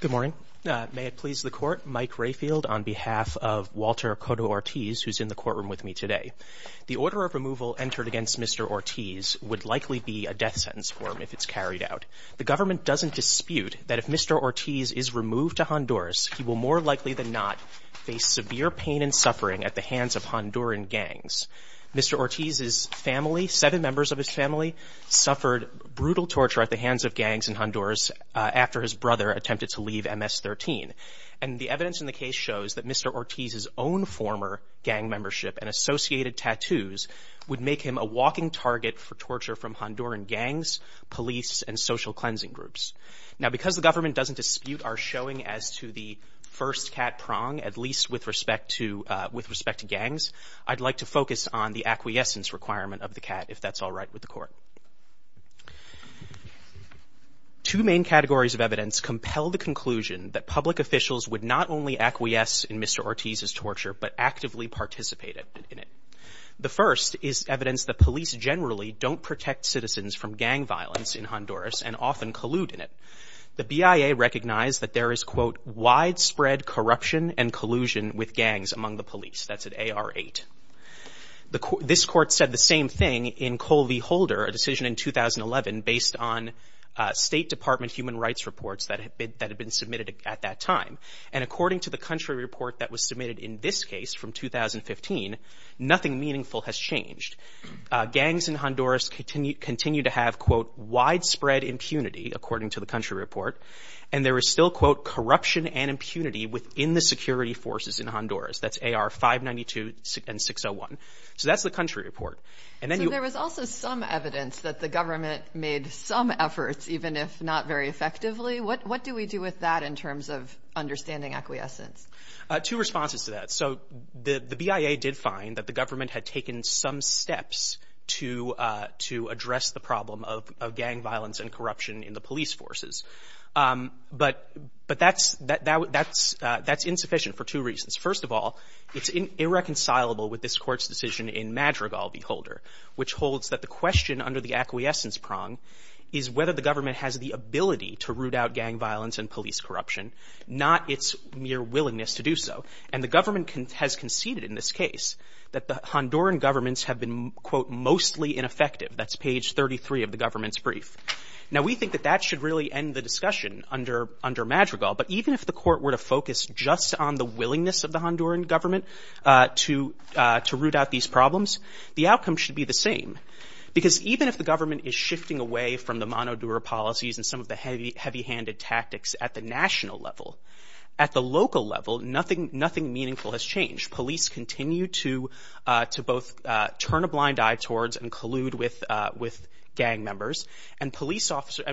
Good morning. May it please the Court, Mike Rayfield on behalf of Walter Coto Ortiz, who's in the courtroom with me today. The order of removal entered against Mr. Ortiz would likely be a death sentence for him if it's carried out. The government doesn't dispute that if Mr. Ortiz is removed to Honduras, he will more likely than not face severe pain and suffering at the hands of Honduran gangs. Mr. Ortiz's family, seven members of his family, suffered brutal torture at the hands of gangs in Honduras after his brother attempted to leave MS-13. And the evidence in the case shows that Mr. Ortiz's own former gang membership and associated tattoos would make him a walking target for torture from Honduran gangs, police, and social cleansing groups. Now because the government doesn't dispute our showing as to the first cat prong, at least with respect to with respect to gangs, I'd like to focus on the acquiescence requirement of the cat, if that's all right with the Court. Two main categories of evidence compel the conclusion that public officials would not only acquiesce in Mr. Ortiz's torture, but actively participate in it. The first is evidence that police generally don't protect citizens from gang violence in Honduras and often collude in it. The BIA recognized that there is widespread corruption and collusion with gangs among the police. That's an AR-8. This Court said the same thing in Colvi-Holder, a decision in 2011 based on State Department human rights reports that had been submitted at that time. And according to the country report that was submitted in this case from 2015, nothing meaningful has changed. Gangs in Honduras continue to have, quote, widespread impunity, according to the country report. And there is still, quote, corruption and impunity within the security forces in Honduras. That's AR-592 and 601. So that's the country report. So there was also some evidence that the government made some efforts, even if not very effectively. What do we do with that in terms of understanding acquiescence? Two responses to that. So the BIA did find that the government had taken some steps to address the problem of gang violence and corruption in the police forces. But that's insufficient for two reasons. First of all, it's irreconcilable with this Court's decision in Madrigal v. Holder, which holds that the question under the acquiescence prong is whether the government has the ability to root out gang violence and police corruption, not its mere willingness to do so. And the government has conceded in this case that the Honduran governments have been, quote, mostly ineffective. That's page 33 of the government's brief. Now, we think that that should really end the discussion under Madrigal. But even if the Court were to focus just on the willingness of the Honduran government to root out these problems, the outcome should be the same. Because even if the government is shifting away from the Monodura policies and some of the heavy-handed tactics at the national level, at the local level, nothing meaningful has changed. Police continue to both turn a blind eye towards and collude with gang members. And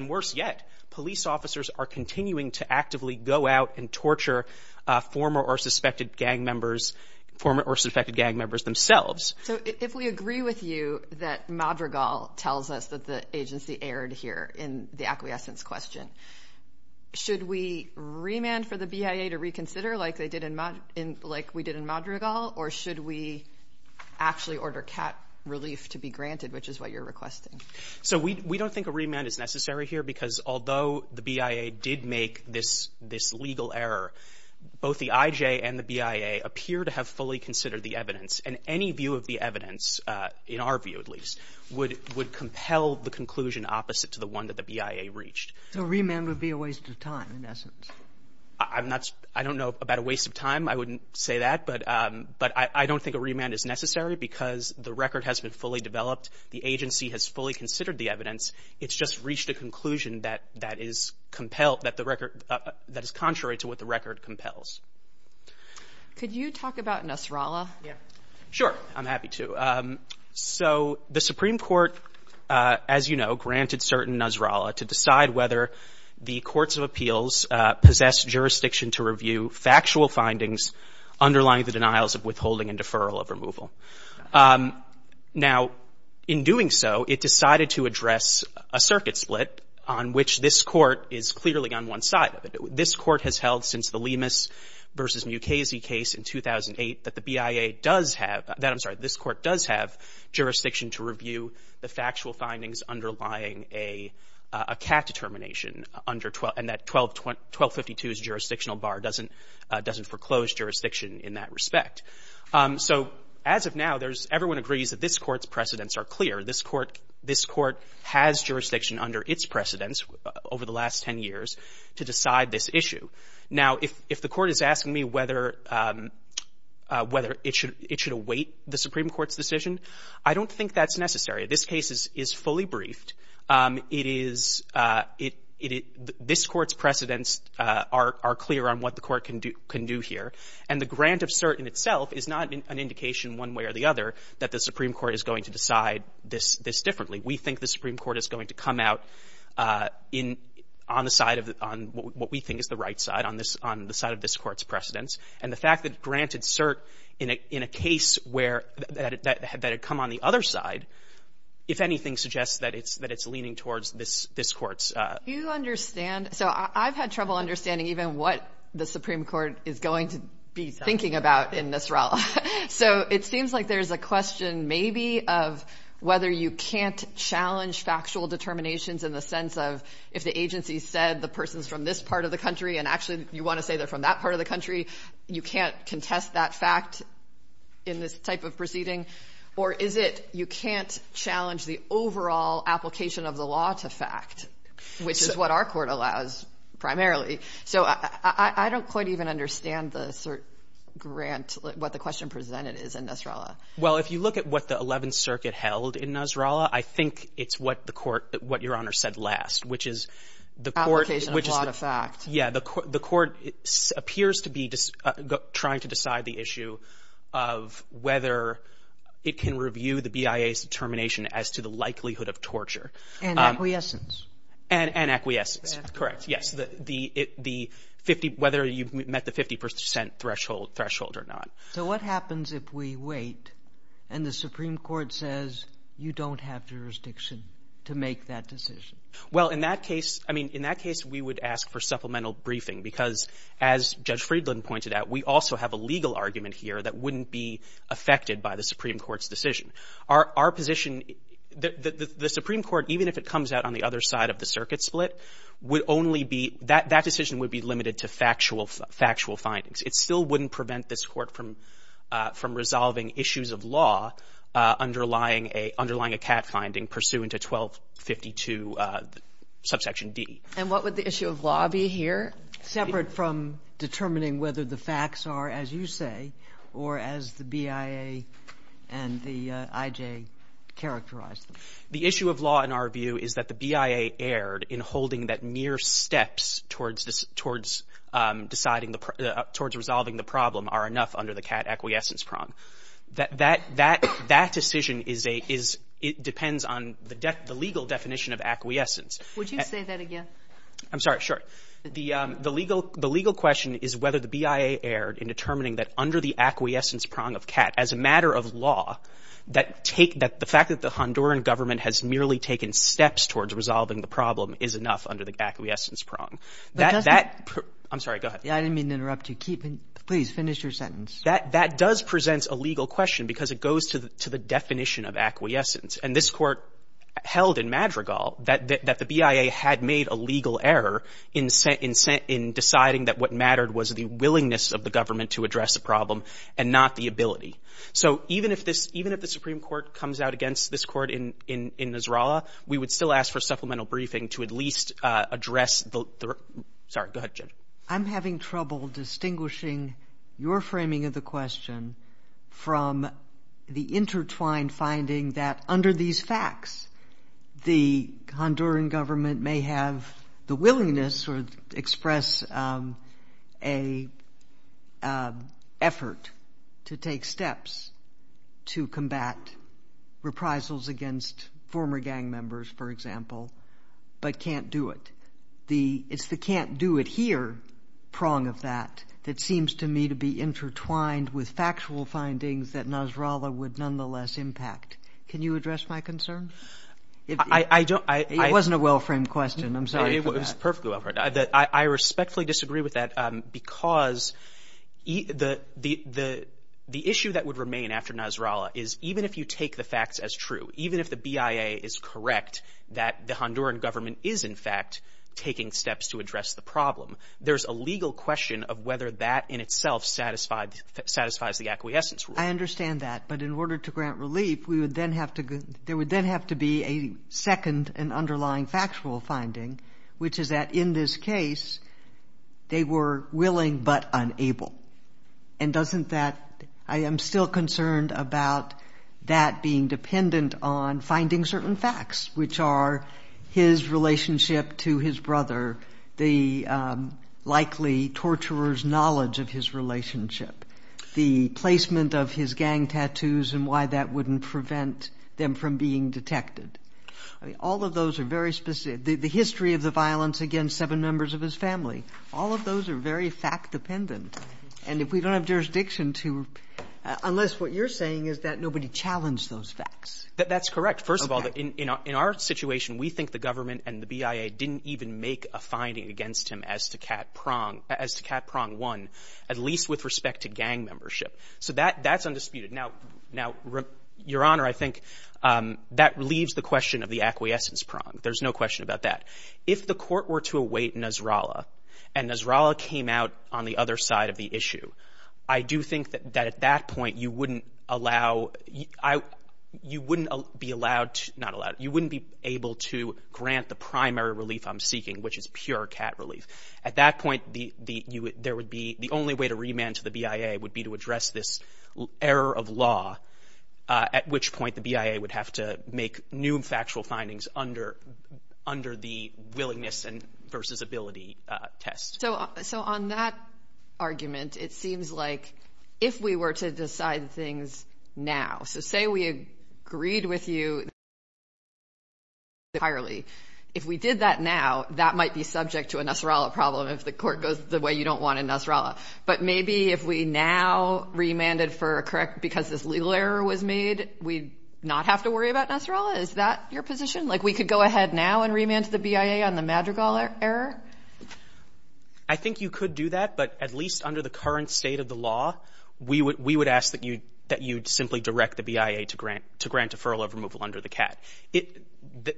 worse yet, police officers are continuing to actively go out and torture former or suspected gang members themselves. So if we agree with you that Madrigal tells us that the agency erred here in the acquiescence question, should we remand for the BIA to reconsider like we did in Madrigal? Or should we actually order cat relief to be granted, which is what you're requesting? So we don't think a remand is necessary here because although the BIA did make this legal error, both the IJ and the BIA appear to have fully considered the evidence. And any view of the evidence, in our view at least, would compel the conclusion opposite to the one that the BIA reached. So remand would be a waste of time in essence? I don't know about a waste of time. I wouldn't say that. But I don't think a remand is necessary because the record has been fully developed. The agency has fully considered the evidence. It's just reached a conclusion that is contrary to what the record compels. Could you talk about Nasrallah? Sure, I'm happy to. So the Supreme Court, as you know, granted certain Nasrallah to decide whether the courts of appeals possess jurisdiction to review factual findings underlying the denials of withholding and deferral of removal. Now, in doing so, it decided to address a circuit split on which this Court is clearly on one side of it. This Court has held since the Lemus v. Mukasey case in 2008 that the Supreme Court does have jurisdiction to review the factual findings underlying a cat determination under 1252's jurisdictional bar doesn't foreclose jurisdiction in that respect. So as of now, everyone agrees that this Court's precedents are clear. This Court has jurisdiction under its precedents over the last 10 years to decide this issue. Now, if the Court is asking me whether it should await the Supreme Court's decision, I don't think that's necessary. This case is fully briefed. It is — this Court's precedents are clear on what the Court can do here. And the grant of cert in itself is not an indication one way or the other that the Supreme Court is going to decide this differently. We think the Supreme Court is going to come out in — on the side of — on what we think is the right side, on this — on the side of this Court's precedents. And the fact that granted cert in a case where — that it come on the other side, if anything, suggests that it's leaning towards this Court's — Do you understand — so I've had trouble understanding even what the Supreme Court is going to be thinking about in this realm. So it seems like there's a question maybe of whether you can't challenge factual determinations in the sense of if the agency said the person's from this part of the country and actually you want to say they're from that part of the country, you can't contest that fact in this type of proceeding? Or is it you can't challenge the overall application of the law to fact, which is what our Court allows primarily? So I don't quite even understand the cert grant, what the question presented is in this realm. Well, if you look at what the Eleventh Circuit held in Nasrallah, I think it's what the Court — what Your Honor said last, which is the Court — Application of law to fact. Yeah. The Court appears to be trying to decide the issue of whether it can review the BIA's determination as to the likelihood of torture. And acquiescence. And acquiescence. Correct. Yes. The 50 — whether you've met the 50 percent threshold or not. So what happens if we wait and the Supreme Court says, you don't have jurisdiction to make that decision? Well, in that case — I mean, in that case, we would ask for supplemental briefing because as Judge Friedland pointed out, we also have a legal argument here that wouldn't be affected by the Supreme Court's decision. Our position — the Supreme Court, even if it comes out on the other side of the circuit split, would only be — that decision would be limited to from resolving issues of law underlying a — underlying a CAT finding pursuant to 1252 subsection D. And what would the issue of law be here, separate from determining whether the facts are, as you say, or as the BIA and the IJ characterize them? The issue of law, in our view, is that the BIA erred in holding that mere steps towards towards deciding the — towards resolving the problem are enough under the CAT acquiescence prong. That decision is a — it depends on the legal definition of acquiescence. Would you say that again? I'm sorry. Sure. The legal question is whether the BIA erred in determining that under the acquiescence prong of CAT, as a matter of law, that take — that the fact that the Honduran government has merely taken steps towards resolving the problem is enough under the acquiescence prong. That — I'm sorry. Go ahead. Yeah, I didn't mean to interrupt you. Keep — please, finish your sentence. That — that does present a legal question, because it goes to the definition of acquiescence. And this Court held in Madrigal that the BIA had made a legal error in — in deciding that what mattered was the willingness of the government to address the problem and not the ability. So even if this — even if the Supreme Court comes out against this Court in — in Nasrallah, we would still ask for supplemental briefing to at least address the — sorry. Go ahead, Jen. I'm having trouble distinguishing your framing of the question from the intertwined finding that under these facts, the Honduran government may have the willingness or express a effort to take steps to combat reprisals against former gang members, for example, but can't do it. The — it's the can't do it here prong of that that seems to me to be intertwined with factual findings that Nasrallah would nonetheless impact. Can you address my concern? I — I don't — I — It wasn't a well-framed question. I'm sorry for that. It was perfectly well-framed. I — I respectfully disagree with that, because the — the issue that would remain after Nasrallah is even if you take the facts as true, even if the steps to address the problem. There's a legal question of whether that in itself satisfied — satisfies the acquiescence rule. I understand that. But in order to grant relief, we would then have to — there would then have to be a second and underlying factual finding, which is that in this case, they were willing but unable. And doesn't that — I am still concerned about that being dependent on finding certain facts, which are his relationship to his brother, the likely torturer's knowledge of his relationship, the placement of his gang tattoos and why that wouldn't prevent them from being detected. I mean, all of those are very specific. The history of the violence against seven members of his family, all of those are very fact-dependent. And if we don't have jurisdiction to — unless what you're saying is that nobody challenged those facts. That's correct. First of all, in our situation, we think the government and the BIA didn't even make a finding against him as to cat prong — as to cat prong one, at least with respect to gang membership. So that's undisputed. Now, Your Honor, I think that leaves the question of the acquiescence prong. There's no question about that. If the court were to await Nasrallah and Nasrallah came out on the other side of the issue, I do think that at that point, you wouldn't allow — you wouldn't be allowed — not allowed — you wouldn't be able to grant the primary relief I'm seeking, which is pure cat relief. At that point, there would be — the only way to remand to the BIA would be to address this error of law, at which point the BIA would have to make new factual findings under the willingness versus ability test. So on that argument, it seems like if we were to decide things now — so say we agreed with you entirely. If we did that now, that might be subject to a Nasrallah problem if the court goes the way you don't want in Nasrallah. But maybe if we now remanded for a correct — because this legal error was made, we'd not have to worry about Nasrallah? Is that your position? Like, we could go ahead now and remand to the BIA on the Madrigal error? MR. CLEMENT I think you could do that, but at least under the current state of the law, we would — we would ask that you — that you'd simply direct the BIA to grant — to grant deferral of removal under the CAT. It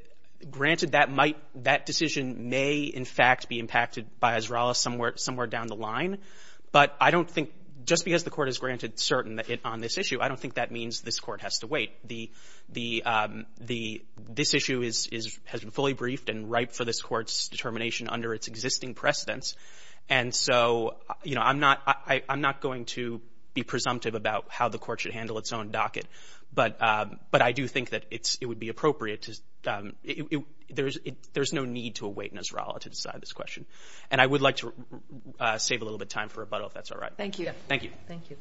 — granted that might — that decision may, in fact, be impacted by Nasrallah somewhere — somewhere down the line, but I don't think — just because the court has granted certain on this issue, I don't think that means this court has to wait. The — the — the — this issue is — is — has been fully briefed and ripe for this court's determination under its existing precedence, and so, you know, I'm not — I'm not going to be presumptive about how the court should handle its own docket, but — but I do think that it's — it would be appropriate to — it — it — there's — it — there's no need to await Nasrallah to decide this question, and I would like to save a little bit of time for rebuttal, if that's all right. Thank you. Thank you. Thank you. All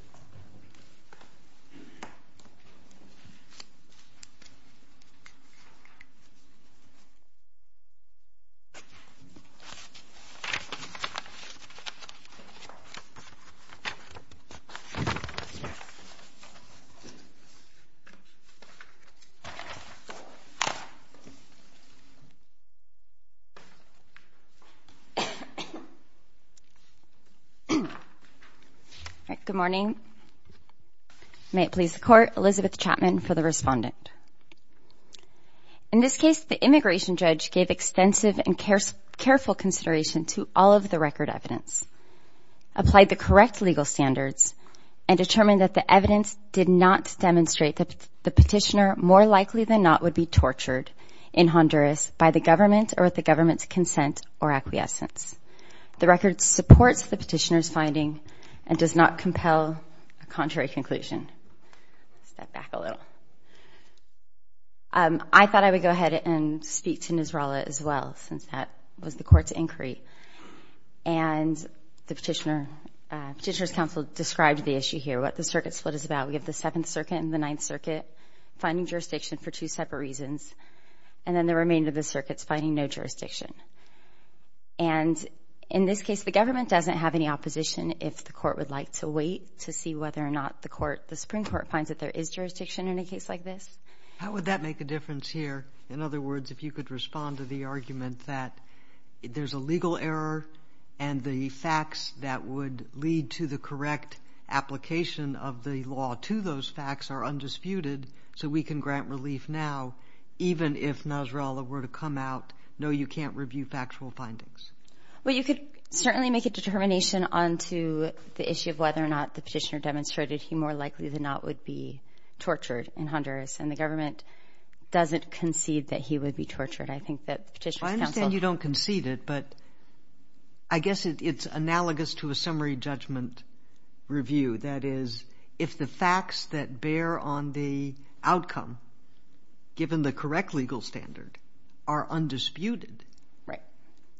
right. Good morning. May it please the Court. Elizabeth Chapman for the respondent. In this case, the immigration judge gave extensive and careful consideration to all of the record evidence, applied the correct legal standards, and determined that the evidence did not demonstrate that the petitioner more likely than not would be tortured in Honduras by the government or the government's consent or acquiescence. The record supports the petitioner's and does not compel a contrary conclusion. Step back a little. I thought I would go ahead and speak to Nasrallah as well, since that was the court's inquiry, and the petitioner — petitioner's counsel described the issue here, what the circuit split is about. We have the Seventh Circuit and the Ninth Circuit finding jurisdiction for two separate reasons, and then the remainder of the circuit's finding no jurisdiction. And in this case, the government doesn't have any opposition. If the court would like to wait to see whether or not the Supreme Court finds that there is jurisdiction in a case like this. How would that make a difference here? In other words, if you could respond to the argument that there's a legal error and the facts that would lead to the correct application of the law to those facts are undisputed, so we can grant relief now, even if Nasrallah were to come out, no, you can't review factual findings. Well, you could certainly make a determination onto the issue of whether or not the petitioner demonstrated he more likely than not would be tortured in Honduras, and the government doesn't concede that he would be tortured. I think that petitioner's counsel — I understand you don't concede it, but I guess it's analogous to a summary judgment review. That is, if the facts that bear on the right,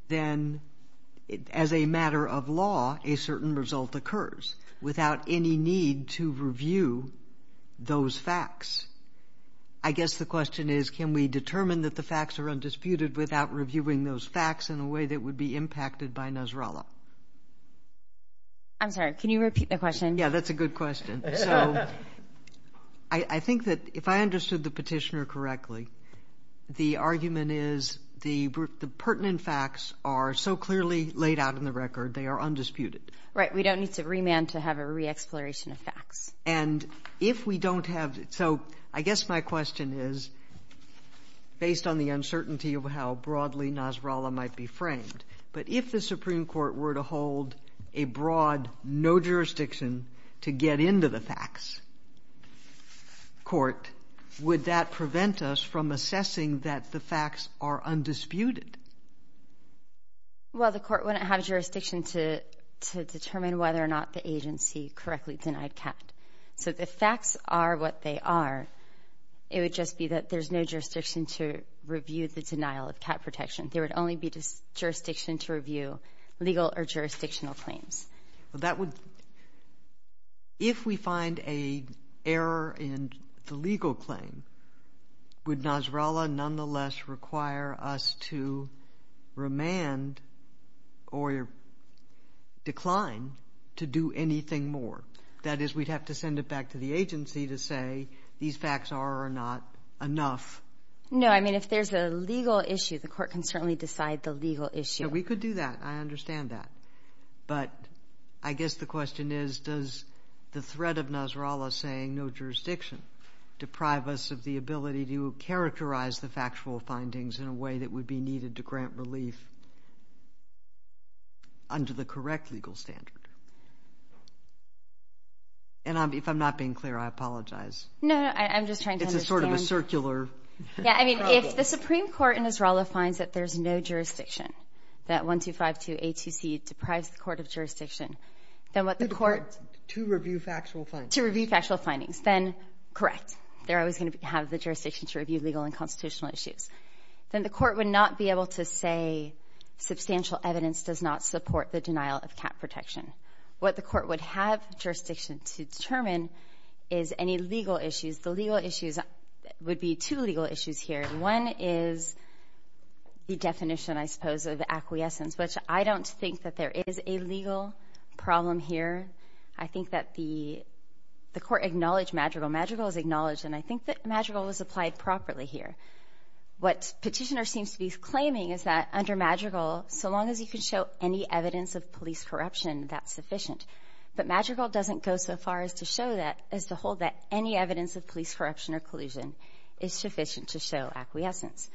then as a matter of law, a certain result occurs without any need to review those facts. I guess the question is, can we determine that the facts are undisputed without reviewing those facts in a way that would be impacted by Nasrallah? I'm sorry, can you repeat the question? Yeah, that's a good question. So I think that if I understood the petitioner correctly, the argument is the pertinent facts are so clearly laid out in the record, they are undisputed. Right, we don't need to remand to have a re-exploration of facts. And if we don't have — so I guess my question is, based on the uncertainty of how broadly Nasrallah might be framed, but if the Supreme Court were to hold a broad, no-jurisdiction, to get into the facts court, would that prevent us from assessing that the facts are undisputed? Well, the court wouldn't have jurisdiction to determine whether or not the agency correctly denied cat. So if the facts are what they are, it would just be that there's no jurisdiction to review the denial of cat protection. There would only be jurisdiction to review legal or jurisdictional claims. If we find an error in the legal claim, would Nasrallah nonetheless require us to remand or decline to do anything more? That is, we'd have to send it back to the agency to say, these facts are or not enough. No, I mean, if there's a legal issue, the court can certainly decide the legal issue. We could do that. I understand that. But I guess the question is, does the threat of Nasrallah saying no jurisdiction deprive us of the ability to characterize the factual findings in a way that would be needed to grant relief under the correct legal standard? And if I'm not being clear, I apologize. No, I'm just trying to understand — It's a sort of a circular problem. Yeah, I mean, if the Supreme Court in Nasrallah finds that there's no jurisdiction, that 1252A2C deprives the court of jurisdiction, then what the court — To review factual findings. To review factual findings. Then, correct. They're always going to have the jurisdiction to review legal and constitutional issues. Then the court would not be able to say, substantial evidence does not support the denial of cat protection. What the court would have jurisdiction to determine is any legal issues. The legal issues would be two legal issues here. One is the definition, I suppose, of acquiescence, which I don't think that there is a legal problem here. I think that the court acknowledged Madrigal. Madrigal is acknowledged, and I think that Madrigal was applied properly here. What Petitioner seems to be claiming is that under Madrigal, so long as you can show any evidence of police corruption, that's sufficient. But Madrigal doesn't go so far as to show that — as to hold that any evidence of police corruption or collusion is sufficient to show acquiescence.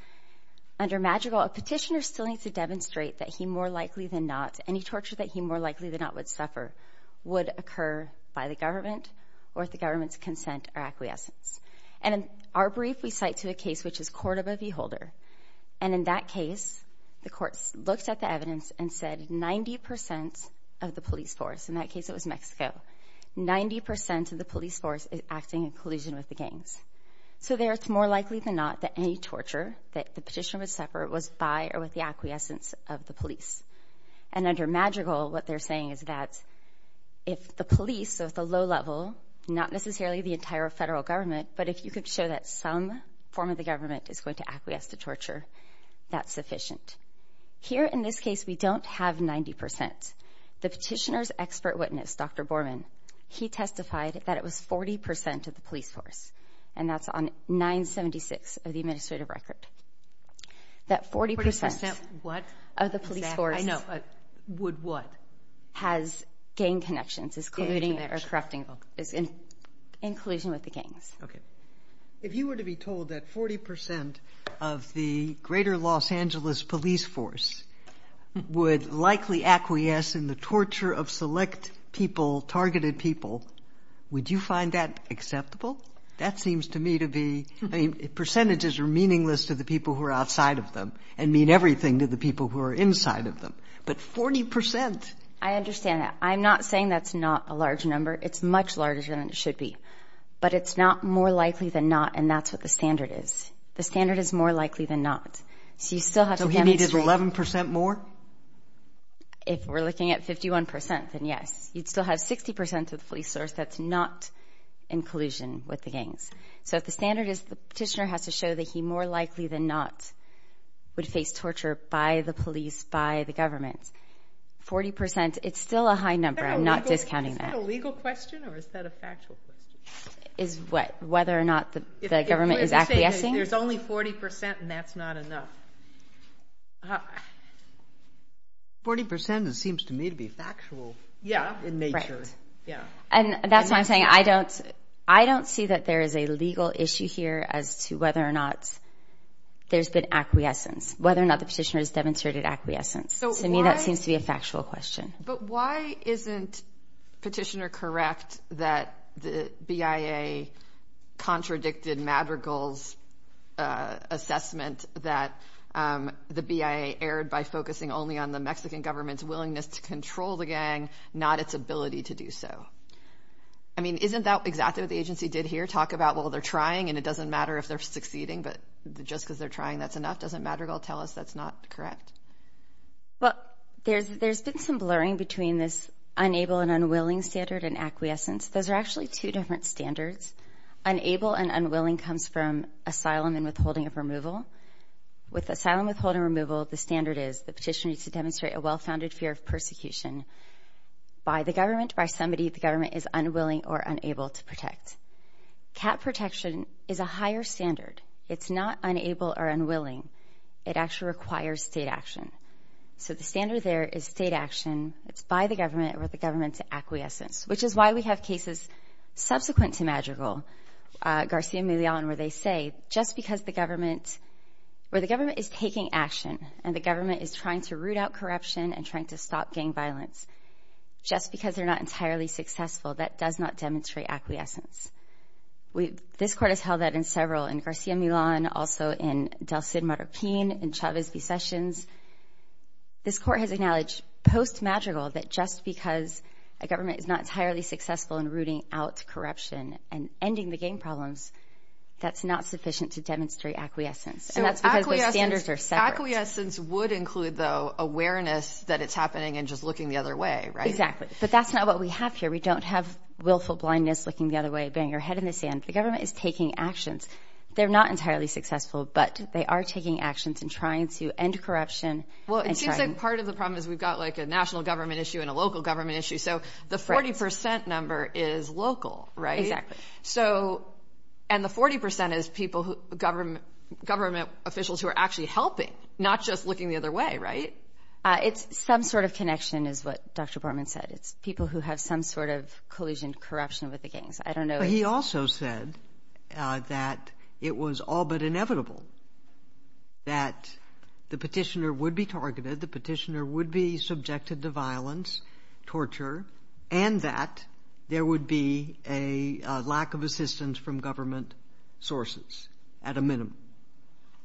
Under Madrigal, a petitioner still needs to demonstrate that he more likely than not — any torture that he more likely than not would suffer would occur by the government or the government's consent or acquiescence. And in our brief, we cite to a case which is Cordova v. Holder. And in that case, the court looked at the evidence and said 90 percent of the police force — in that case, it was Mexico — 90 percent of the police force is acting in collusion with the gangs. So there, it's more likely than not that any torture that the petitioner would suffer was by or with the acquiescence of the police. And under Madrigal, what they're saying is that if the police, so at the low level, not necessarily the entire federal government, but if you could show that some form of the government is going to acquiesce to torture, that's sufficient. Here in this case, we don't have 90 percent. The petitioner's expert witness, Dr. Borman, he testified that it was 40 percent of the police force. And that's on 976 of the administrative record. That 40 percent of the police force has gang connections, is colluding or corrupting, is in collusion with the gangs. Okay. If you were to be told that 40 percent of the greater Los Angeles police force would likely acquiesce in the torture of select people, targeted people, would you find that acceptable? That seems to me to be — I mean, percentages are meaningless to the people who are outside of them and mean everything to the people who are inside of them. But 40 percent? I understand that. I'm not saying that's not a large number. It's much larger than it should be. But it's not more likely than not. And that's what the standard is more likely than not. So you still have to demonstrate. So he needed 11 percent more? If we're looking at 51 percent, then yes. You'd still have 60 percent of the police force that's not in collusion with the gangs. So if the standard is the petitioner has to show that he more likely than not would face torture by the police, by the government, 40 percent, it's still a high number. I'm not discounting that. Is that a legal question or is that a 40 percent and that's not enough? 40 percent seems to me to be factual in nature. Yeah. And that's why I'm saying I don't see that there is a legal issue here as to whether or not there's been acquiescence, whether or not the petitioner has demonstrated acquiescence. To me, that seems to be a factual question. But why isn't petitioner correct that the BIA contradicted Madrigal's assessment that the BIA erred by focusing only on the Mexican government's willingness to control the gang, not its ability to do so? I mean, isn't that exactly what the agency did here? Talk about, well, they're trying and it doesn't matter if they're succeeding, but just because they're trying, that's enough. Doesn't Madrigal tell us that's not correct? Well, there's there's been some blurring between this unable and unwilling standard and acquiescence. Those are actually two different standards. Unable and unwilling comes from asylum and withholding of removal. With asylum withholding removal, the standard is the petitioner needs to demonstrate a well-founded fear of persecution by the government, by somebody the government is unwilling or unable to protect. Cap protection is a higher standard. It's not unable or unwilling. It actually requires state action. So the standard there is state action. It's by the government or the government's acquiescence, which is why we have cases subsequent to Madrigal, Garcia Millan, where they say just because the government, where the government is taking action and the government is trying to root out corruption and trying to stop gang violence, just because they're not entirely successful, that does not demonstrate acquiescence. This court has held that in several, in Garcia Millan, also in in Chavez v. Sessions. This court has acknowledged post-Madrigal that just because a government is not entirely successful in rooting out corruption and ending the gang problems, that's not sufficient to demonstrate acquiescence. And that's because the standards are separate. So acquiescence would include, though, awareness that it's happening and just looking the other way, right? Exactly. But that's not what we have here. We don't have willful blindness, looking the other way, banging your head in the sand. The government is taking actions. They're not entirely successful, but they are taking actions and trying to end corruption. Well, it seems like part of the problem is we've got like a national government issue and a local government issue. So the 40 percent number is local, right? Exactly. So and the 40 percent is people who government government officials who are actually helping, not just looking the other way. Right. It's some sort of connection is what Dr. Borman said. It's people who have some sort of it was all but inevitable that the petitioner would be targeted, the petitioner would be subjected to violence, torture, and that there would be a lack of assistance from government sources at a minimum.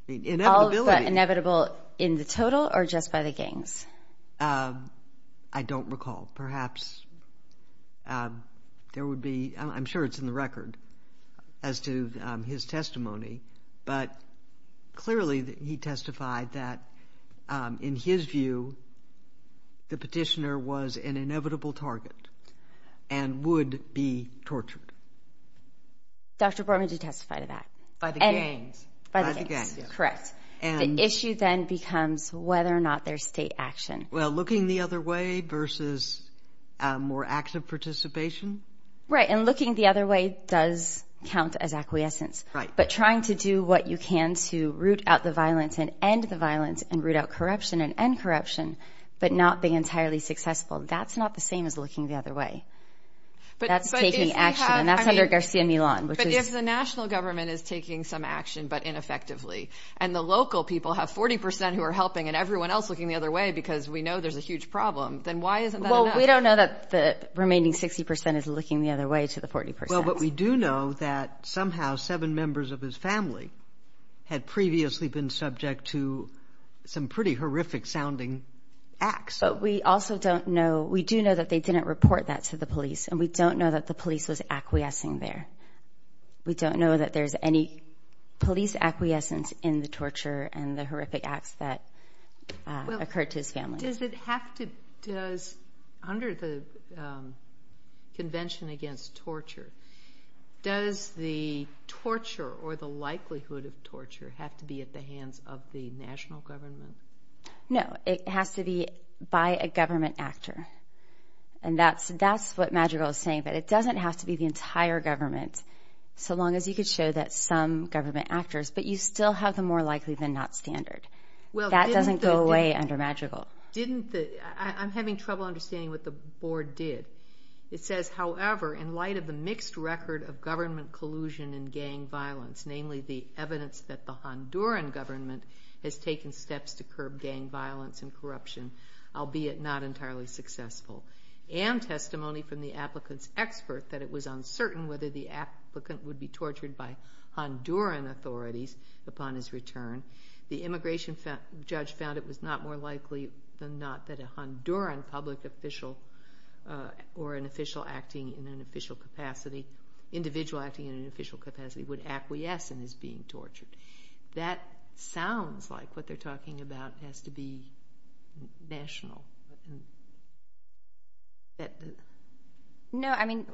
Inevitable in the total or just by the gangs? I don't recall. Perhaps there would be. I'm sure it's in the record as to his testimony, but clearly he testified that in his view, the petitioner was an inevitable target and would be tortured. Dr. Borman did testify to that. By the gangs. By the gangs. Correct. And the issue then becomes whether or not there's state action. Well, looking the other way versus more active participation. Right. And looking the other way does count as acquiescence. Right. But trying to do what you can to root out the violence and end the violence and root out corruption and end corruption, but not being entirely successful. That's not the same as looking the other way. But that's taking action. And that's under Garcia Milan. But if the national government is taking some action, but ineffectively, and the local people have 40 percent who are helping and everyone else looking the other way because we know there's a huge problem, then why isn't that? Well, we don't know that the remaining 60 percent is looking the other way to the 40 percent. Well, but we do know that somehow seven members of his family had previously been subject to some pretty horrific sounding acts. But we also don't know. We do know that they didn't report that to the police, and we don't know that the police was acquiescing there. We don't know that there's any police acquiescence in the torture and the horrific acts that occurred to his family. Does it have to, does, under the Convention Against Torture, does the torture or the likelihood of torture have to be at the hands of the national government? No. It has to be by a government actor. And that's what Madrigal is saying. But it doesn't have to be the entire government, so long as you could show that some government actors, but you still have the more likely than not standard. That doesn't go away under Madrigal. Didn't the, I'm having trouble understanding what the board did. It says, however, in light of the mixed record of government collusion and gang violence, namely the evidence that the Honduran government has taken steps to curb gang violence and corruption, albeit not entirely successful, and testimony from the applicant's expert that it was uncertain whether the applicant would be tortured by Honduran authorities upon his return, the immigration judge found it was not more likely than not that a Honduran public official or an official acting in an official capacity, individual acting in an official capacity, would acquiesce in his being tortured. That sounds like what they're talking about has to be national. No, I mean,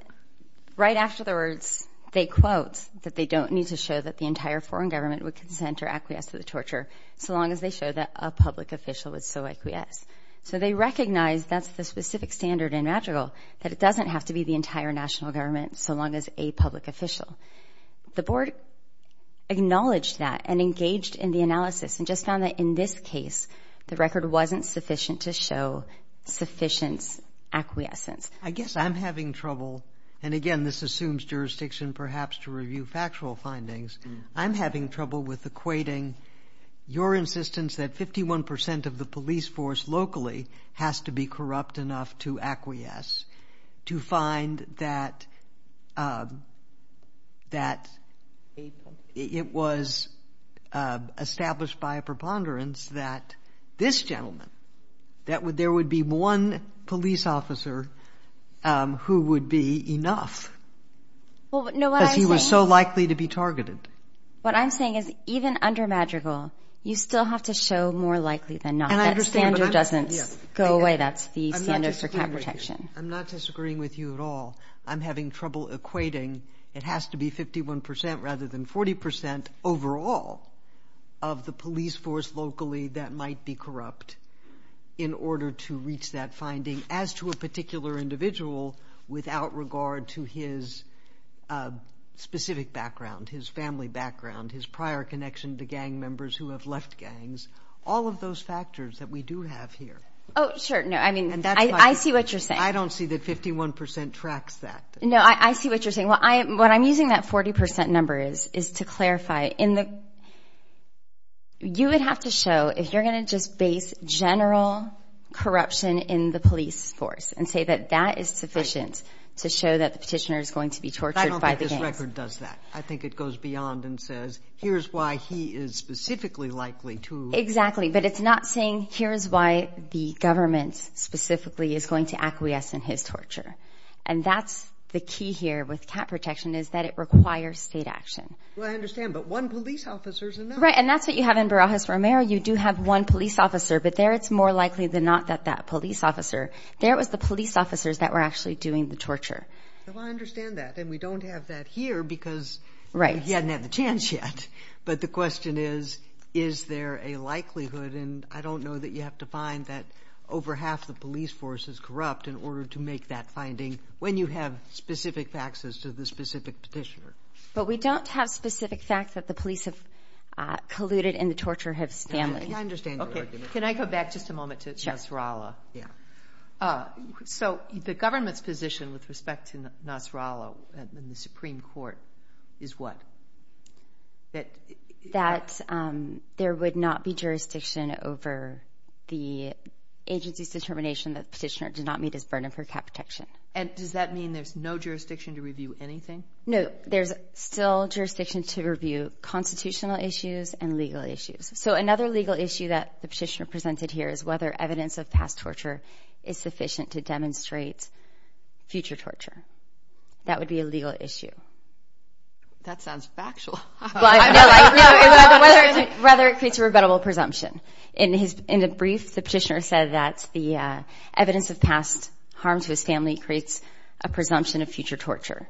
right after the words, they quote that they don't need to show that the entire foreign government would consent or acquiesce to the torture, so long as they show that a public official would so acquiesce. So they recognize that's the specific standard in Madrigal, that it doesn't have to be the entire national government, so long as a public official. The board acknowledged that and engaged in the analysis and just found that in this case, the record wasn't sufficient to show sufficient acquiescence. I guess I'm having trouble, and again, this assumes jurisdiction perhaps to review factual findings. I'm having trouble with equating your insistence that 51% of the police force locally has to be corrupt enough to acquiesce, to find that it was established by a preponderance that this gentleman, that there would be one police officer who would be enough. Well, no, what I'm saying- Because he was so likely to be targeted. What I'm saying is even under Madrigal, you still have to show more likely than not. And I understand, but I'm- Go away, that's the standard for counter protection. I'm not disagreeing with you at all. I'm having trouble equating, it has to be 51% rather than 40% overall of the police force locally that might be corrupt in order to reach that finding, as to a particular individual without regard to his specific background, his family background, his prior connection to gang members who have left gangs, all of those factors that we do have here. Sure. No, I mean, I see what you're saying. I don't see that 51% tracks that. No, I see what you're saying. What I'm using that 40% number is, is to clarify. You would have to show, if you're going to just base general corruption in the police force and say that that is sufficient to show that the petitioner is going to be tortured by the gangs. I don't think this record does that. I think it goes beyond and says, here's why he is specifically likely to- specifically is going to acquiesce in his torture. And that's the key here with cap protection is that it requires state action. Well, I understand, but one police officer is enough. Right. And that's what you have in Barajas Romero. You do have one police officer, but there it's more likely than not that that police officer, there was the police officers that were actually doing the torture. Well, I understand that. And we don't have that here because- Right. You hadn't had the chance yet. But the question is, is there a likelihood? And I don't know that you have to find that over half the police force is corrupt in order to make that finding when you have specific faxes to the specific petitioner. But we don't have specific facts that the police have colluded in the torture of Stanley. I understand your argument. Can I go back just a moment to Nasrallah? Yeah. So the government's position with respect to Nasrallah and the Supreme Court is what? That there would not be jurisdiction over the agency's determination that the petitioner did not meet his burden for cap protection. And does that mean there's no jurisdiction to review anything? No, there's still jurisdiction to review constitutional issues and legal issues. So another legal issue that the petitioner presented here is whether evidence of past torture is sufficient to demonstrate future torture. That would be a legal issue. That sounds factual. But I don't know whether it creates a rebuttable presumption. In a brief, the petitioner said that the evidence of past harm to his family creates a presumption of future torture.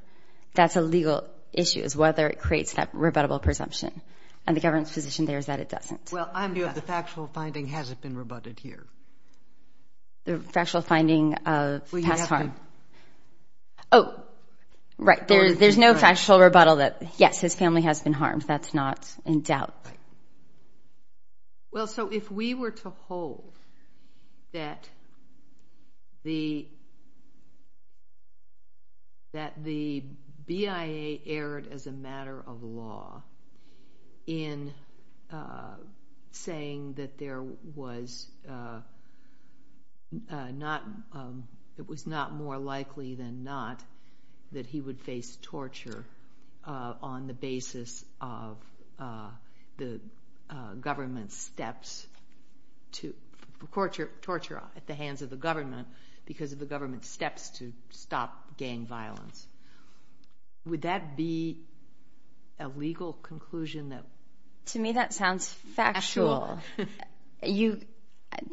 That's a legal issue is whether it creates that rebuttable presumption. And the government's position there is that it doesn't. Well, the factual finding hasn't been rebutted here. The factual finding of past harm? Oh, right. There's no factual rebuttal that, yes, his family has been harmed. That's not in doubt. Well, so if we were to hold that the BIA erred as a matter of law in saying that there was not more likely than not that he would face torture on the basis of the government's steps to torture at the hands of the government because of the government's steps to stop gang violence, would that be a legal conclusion? To me, that sounds factual.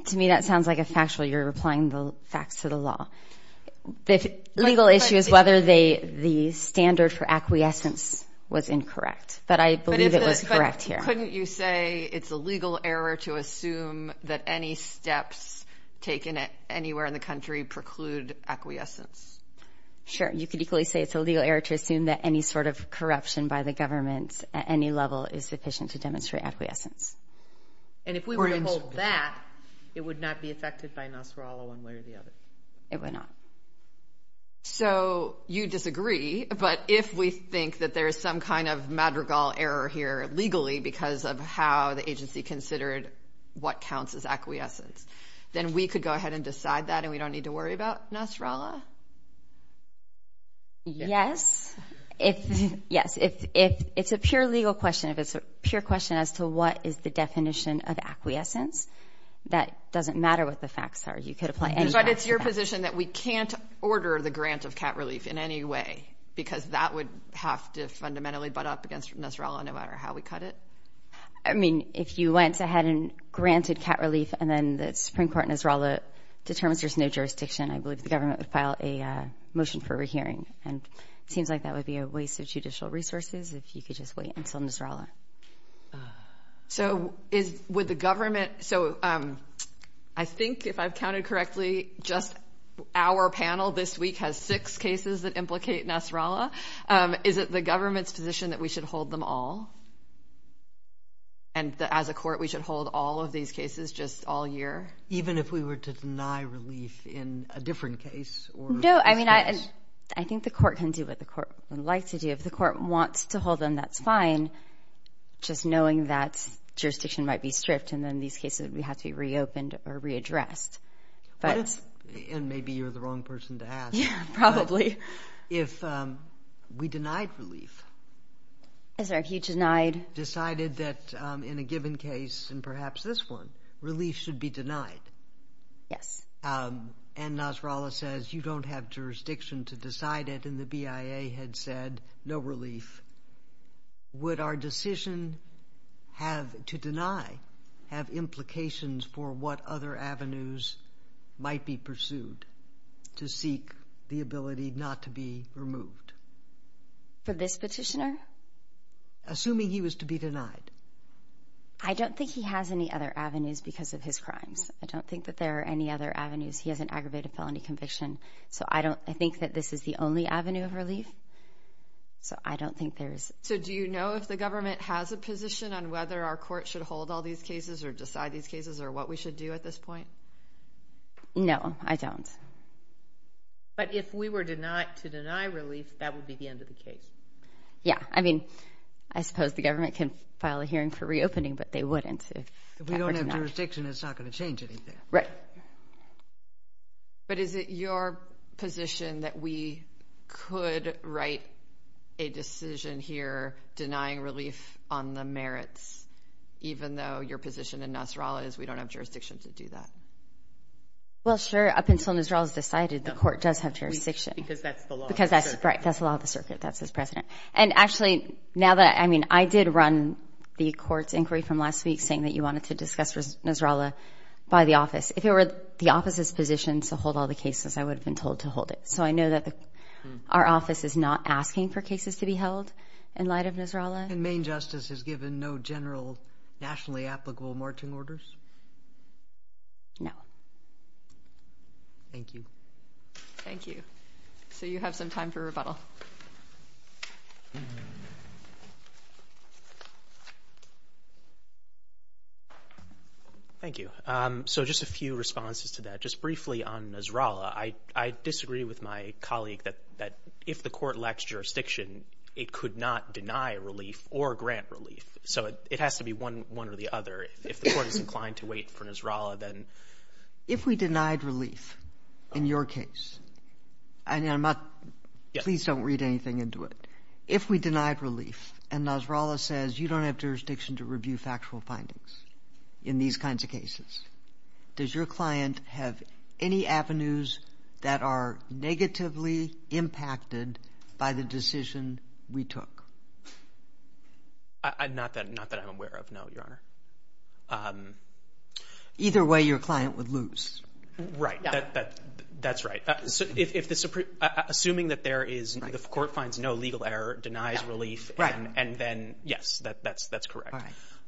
To me, that sounds like a factual. You're replying the facts to the law. The legal issue is whether the standard for acquiescence was incorrect. But I believe it was correct here. Couldn't you say it's a legal error to assume that any steps taken anywhere in the country preclude acquiescence? Sure. You could equally say it's a legal error to assume that any sort of corruption by the government at any level is sufficient to demonstrate acquiescence. And if we were to hold that, it would not be affected by Nasrallah one way or the other. It would not. So you disagree. But if we think that there is some kind of madrigal error here legally because of how the agency considered what counts as acquiescence, then we could go ahead and decide that and we don't need to worry about Nasrallah? Yes. If it's a pure legal question, if it's a pure question as to what is the definition of acquiescence, that doesn't matter what the facts are. You could apply any facts. But it's your position that we can't order the grant of cat relief in any way because that would have to fundamentally butt up against Nasrallah no matter how we cut it? I mean, if you went ahead and granted cat relief and then the Supreme Court, Nasrallah determines there's no jurisdiction, I believe the government would file a motion for rehearing. And it seems like that would be a waste of judicial resources if you could just wait until Nasrallah. So is with the government, so I think if I've counted correctly, just our panel this week has six cases that implicate Nasrallah. Is it the government's position that we should hold them all? And as a court, we should hold all of these cases just all year? Even if we were to deny relief in a different case? No, I mean, I think the court can do what the court would like to do. If the court wants to hold them, that's fine. Just knowing that jurisdiction might be stripped and then these cases would have to be reopened or readdressed. And maybe you're the wrong person to ask. Yeah, probably. If we denied relief. I'm sorry, if you denied? Decided that in a given case, and perhaps this one, relief should be denied. Yes. And Nasrallah says you don't have jurisdiction to decide it. And the BIA had said no relief. Would our decision to deny have implications for what other avenues might be pursued to seek the ability not to be removed? For this petitioner? Assuming he was to be denied. I don't think he has any other avenues because of his crimes. I don't think that there are any other avenues. He has an aggravated felony conviction. So I think that this is the only relief. So I don't think there is. So do you know if the government has a position on whether our court should hold all these cases or decide these cases or what we should do at this point? No, I don't. But if we were denied to deny relief, that would be the end of the case. Yeah, I mean, I suppose the government can file a hearing for reopening, but they wouldn't. If we don't have jurisdiction, it's not going to change anything. Right. But is it your position that we could write a decision here denying relief on the merits, even though your position in Nasrallah is we don't have jurisdiction to do that? Well, sure. Up until Nasrallah is decided, the court does have jurisdiction. Because that's the law. Because that's right. That's the law of the circuit. That's his president. And actually, now that I mean, I did run the court's inquiry from last week saying that you wanted to discuss Nasrallah by the office. If it were the office's position to hold all the cases, I would have been told to hold it. So I know that our office is not asking for cases to be held in light of Nasrallah. And Maine Justice has given no general nationally applicable marching orders? No. Thank you. Thank you. So you have some time for rebuttal. Thank you. So just a few responses to that. Just briefly on Nasrallah, I disagree with my colleague that if the court lacks jurisdiction, it could not deny relief or grant relief. So it has to be one or the other. If the court is inclined to wait for Nasrallah, then... If we denied relief in your case, and please don't read anything into it. If we denied relief and Nasrallah says you don't have jurisdiction to review factual findings, in these kinds of cases, does your client have any avenues that are negatively impacted by the decision we took? Not that I'm aware of, no, Your Honor. Either way, your client would lose. Right. That's right. Assuming that the court finds no legal error, denies relief, and then yes, that's correct.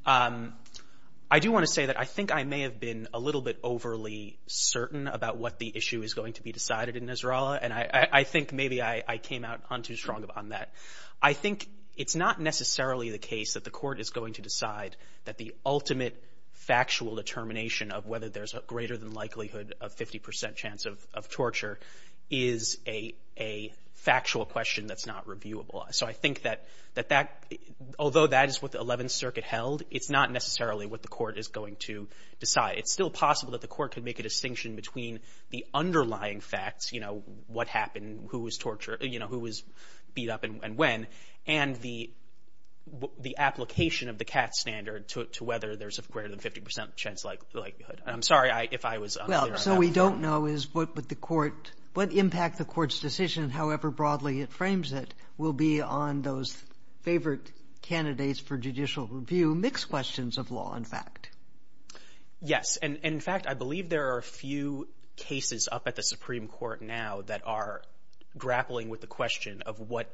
I do want to say that I think I may have been a little bit overly certain about what the issue is going to be decided in Nasrallah. And I think maybe I came out on too strong on that. I think it's not necessarily the case that the court is going to decide that the ultimate factual determination of whether there's a greater than likelihood of 50% chance of torture is a factual question that's not reviewable. So I think that although that is what the 11th Circuit held, it's not necessarily what the court is going to decide. It's still possible that the court could make a distinction between the underlying facts, you know, what happened, who was tortured, you know, who was beat up and when, and the application of the CAT standard to whether there's a greater than 50% chance likelihood. I'm sorry if I was unclear on that. So what we don't know is what impact the court's decision, however broadly it frames it, will be on those favorite candidates for judicial review, mixed questions of law and fact. Yes. And in fact, I believe there are a few cases up at the Supreme Court now that are grappling with the question of what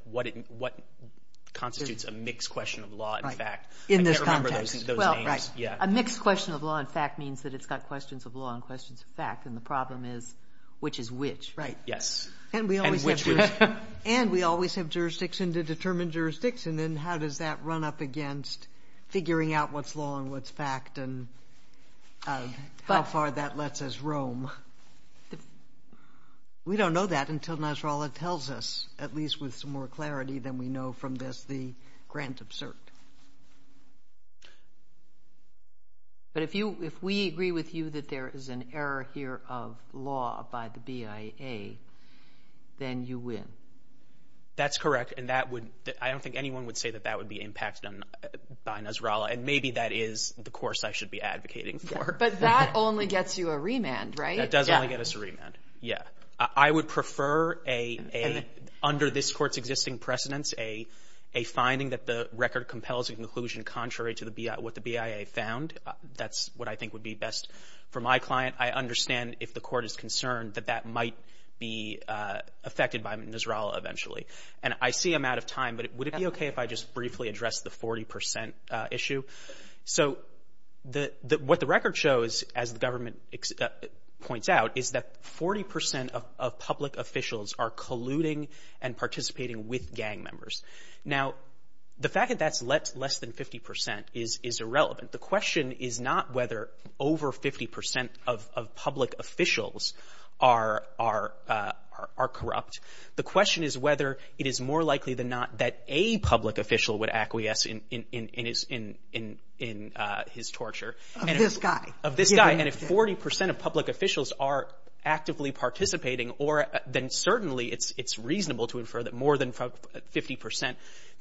constitutes a mixed question of law and fact. In this context. Well, right. A mixed question of law and fact means that it's got questions of law and questions of fact. And the problem is which is which. Right. Yes. And we always have jurisdiction to determine jurisdictions and how does that run up against figuring out what's law and what's fact and how far that lets us roam. We don't know that until Nasrallah tells us, at least with some more clarity than we know from this, the grand absurd. But if we agree with you that there is an error here of law by the BIA, then you win. That's correct. And I don't think anyone would say that that would be impacted by Nasrallah. And maybe that is the course I should be advocating for. But that only gets you a remand, right? That does only get us a remand. Yeah. I would prefer, under this court's existing precedence, a finding that the record compels a conclusion contrary to what the BIA found. That's what I think would be best for my client. I understand if the court is concerned that that might be affected by Nasrallah eventually. And I see I'm out of time, but would it be okay if I just briefly address the 40% issue? So what the record shows, as the government points out, is that 40% of public officials are colluding and participating with gang members. Now, the fact that that's less than 50% is irrelevant. The question is not whether over 50% of public officials are corrupt. The question is whether it is more likely than not that a public official would acquiesce in his torture. Of this guy. Of this guy. And if 40% of public officials are actively participating, then certainly it's reasonable to infer that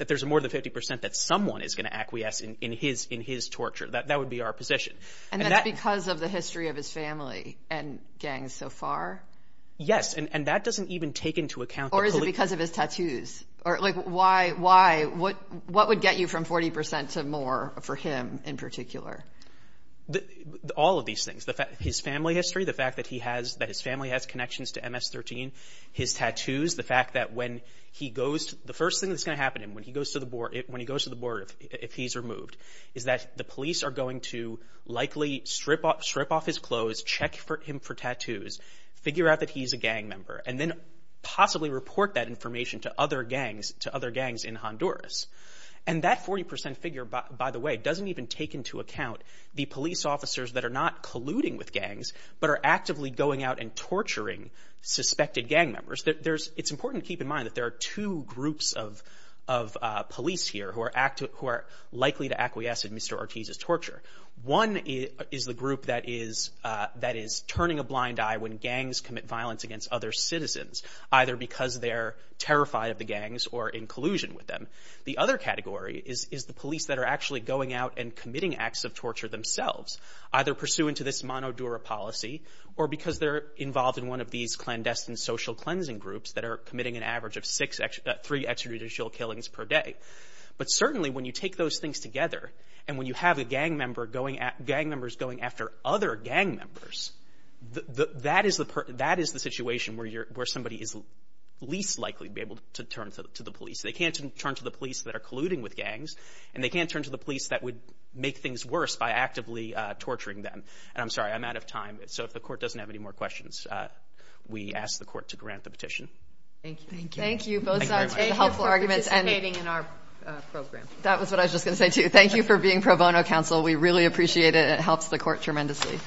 there's more than 50% that someone is going to acquiesce in his torture. That would be our position. And that's because of the history of his family and gangs so far? Yes. And that doesn't even take into account the police. Or is it because of his tattoos? What would get you from 40% to more for him in particular? All of these things. His family history. The fact that his family has connections to MS-13. His tattoos. The fact that when he goes... The first thing that's going to happen to him when he goes to the board if he's removed is that the police are going to likely strip off his clothes, check him for tattoos, figure out that he's a gang member, and then possibly report that information to other gangs in Honduras. And that 40% figure, by the way, doesn't even take into account the police officers that are not colluding with gangs but are actively going out and torturing suspected gang members. It's important to keep in mind that there are two groups of police here who are likely to acquiesce in Mr. Ortiz's torture. One is the group that is turning a blind eye when gangs commit violence against other citizens, either because they're terrified of the gangs or in collusion with them. The other category is the police that are actually going out and committing acts of torture themselves, either pursuant to this Monodura policy or because they're involved in one of these clandestine social cleansing groups that are committing an average of three extrajudicial killings per day. But certainly when you take those things together and when you have gang members going after other gang members, that is the situation where somebody is least likely to be able to turn to the police. They can't turn to the police that are colluding with gangs, and they can't turn to the police that would make things worse by actively torturing them. And I'm sorry, I'm out of time. So if the court doesn't have any more questions, we ask the court to grant the petition. Thank you. Thank you. Thank you for participating in our program. That was what I was just going to say, too. Thank you for being pro bono counsel. We really appreciate it. It helps the court tremendously.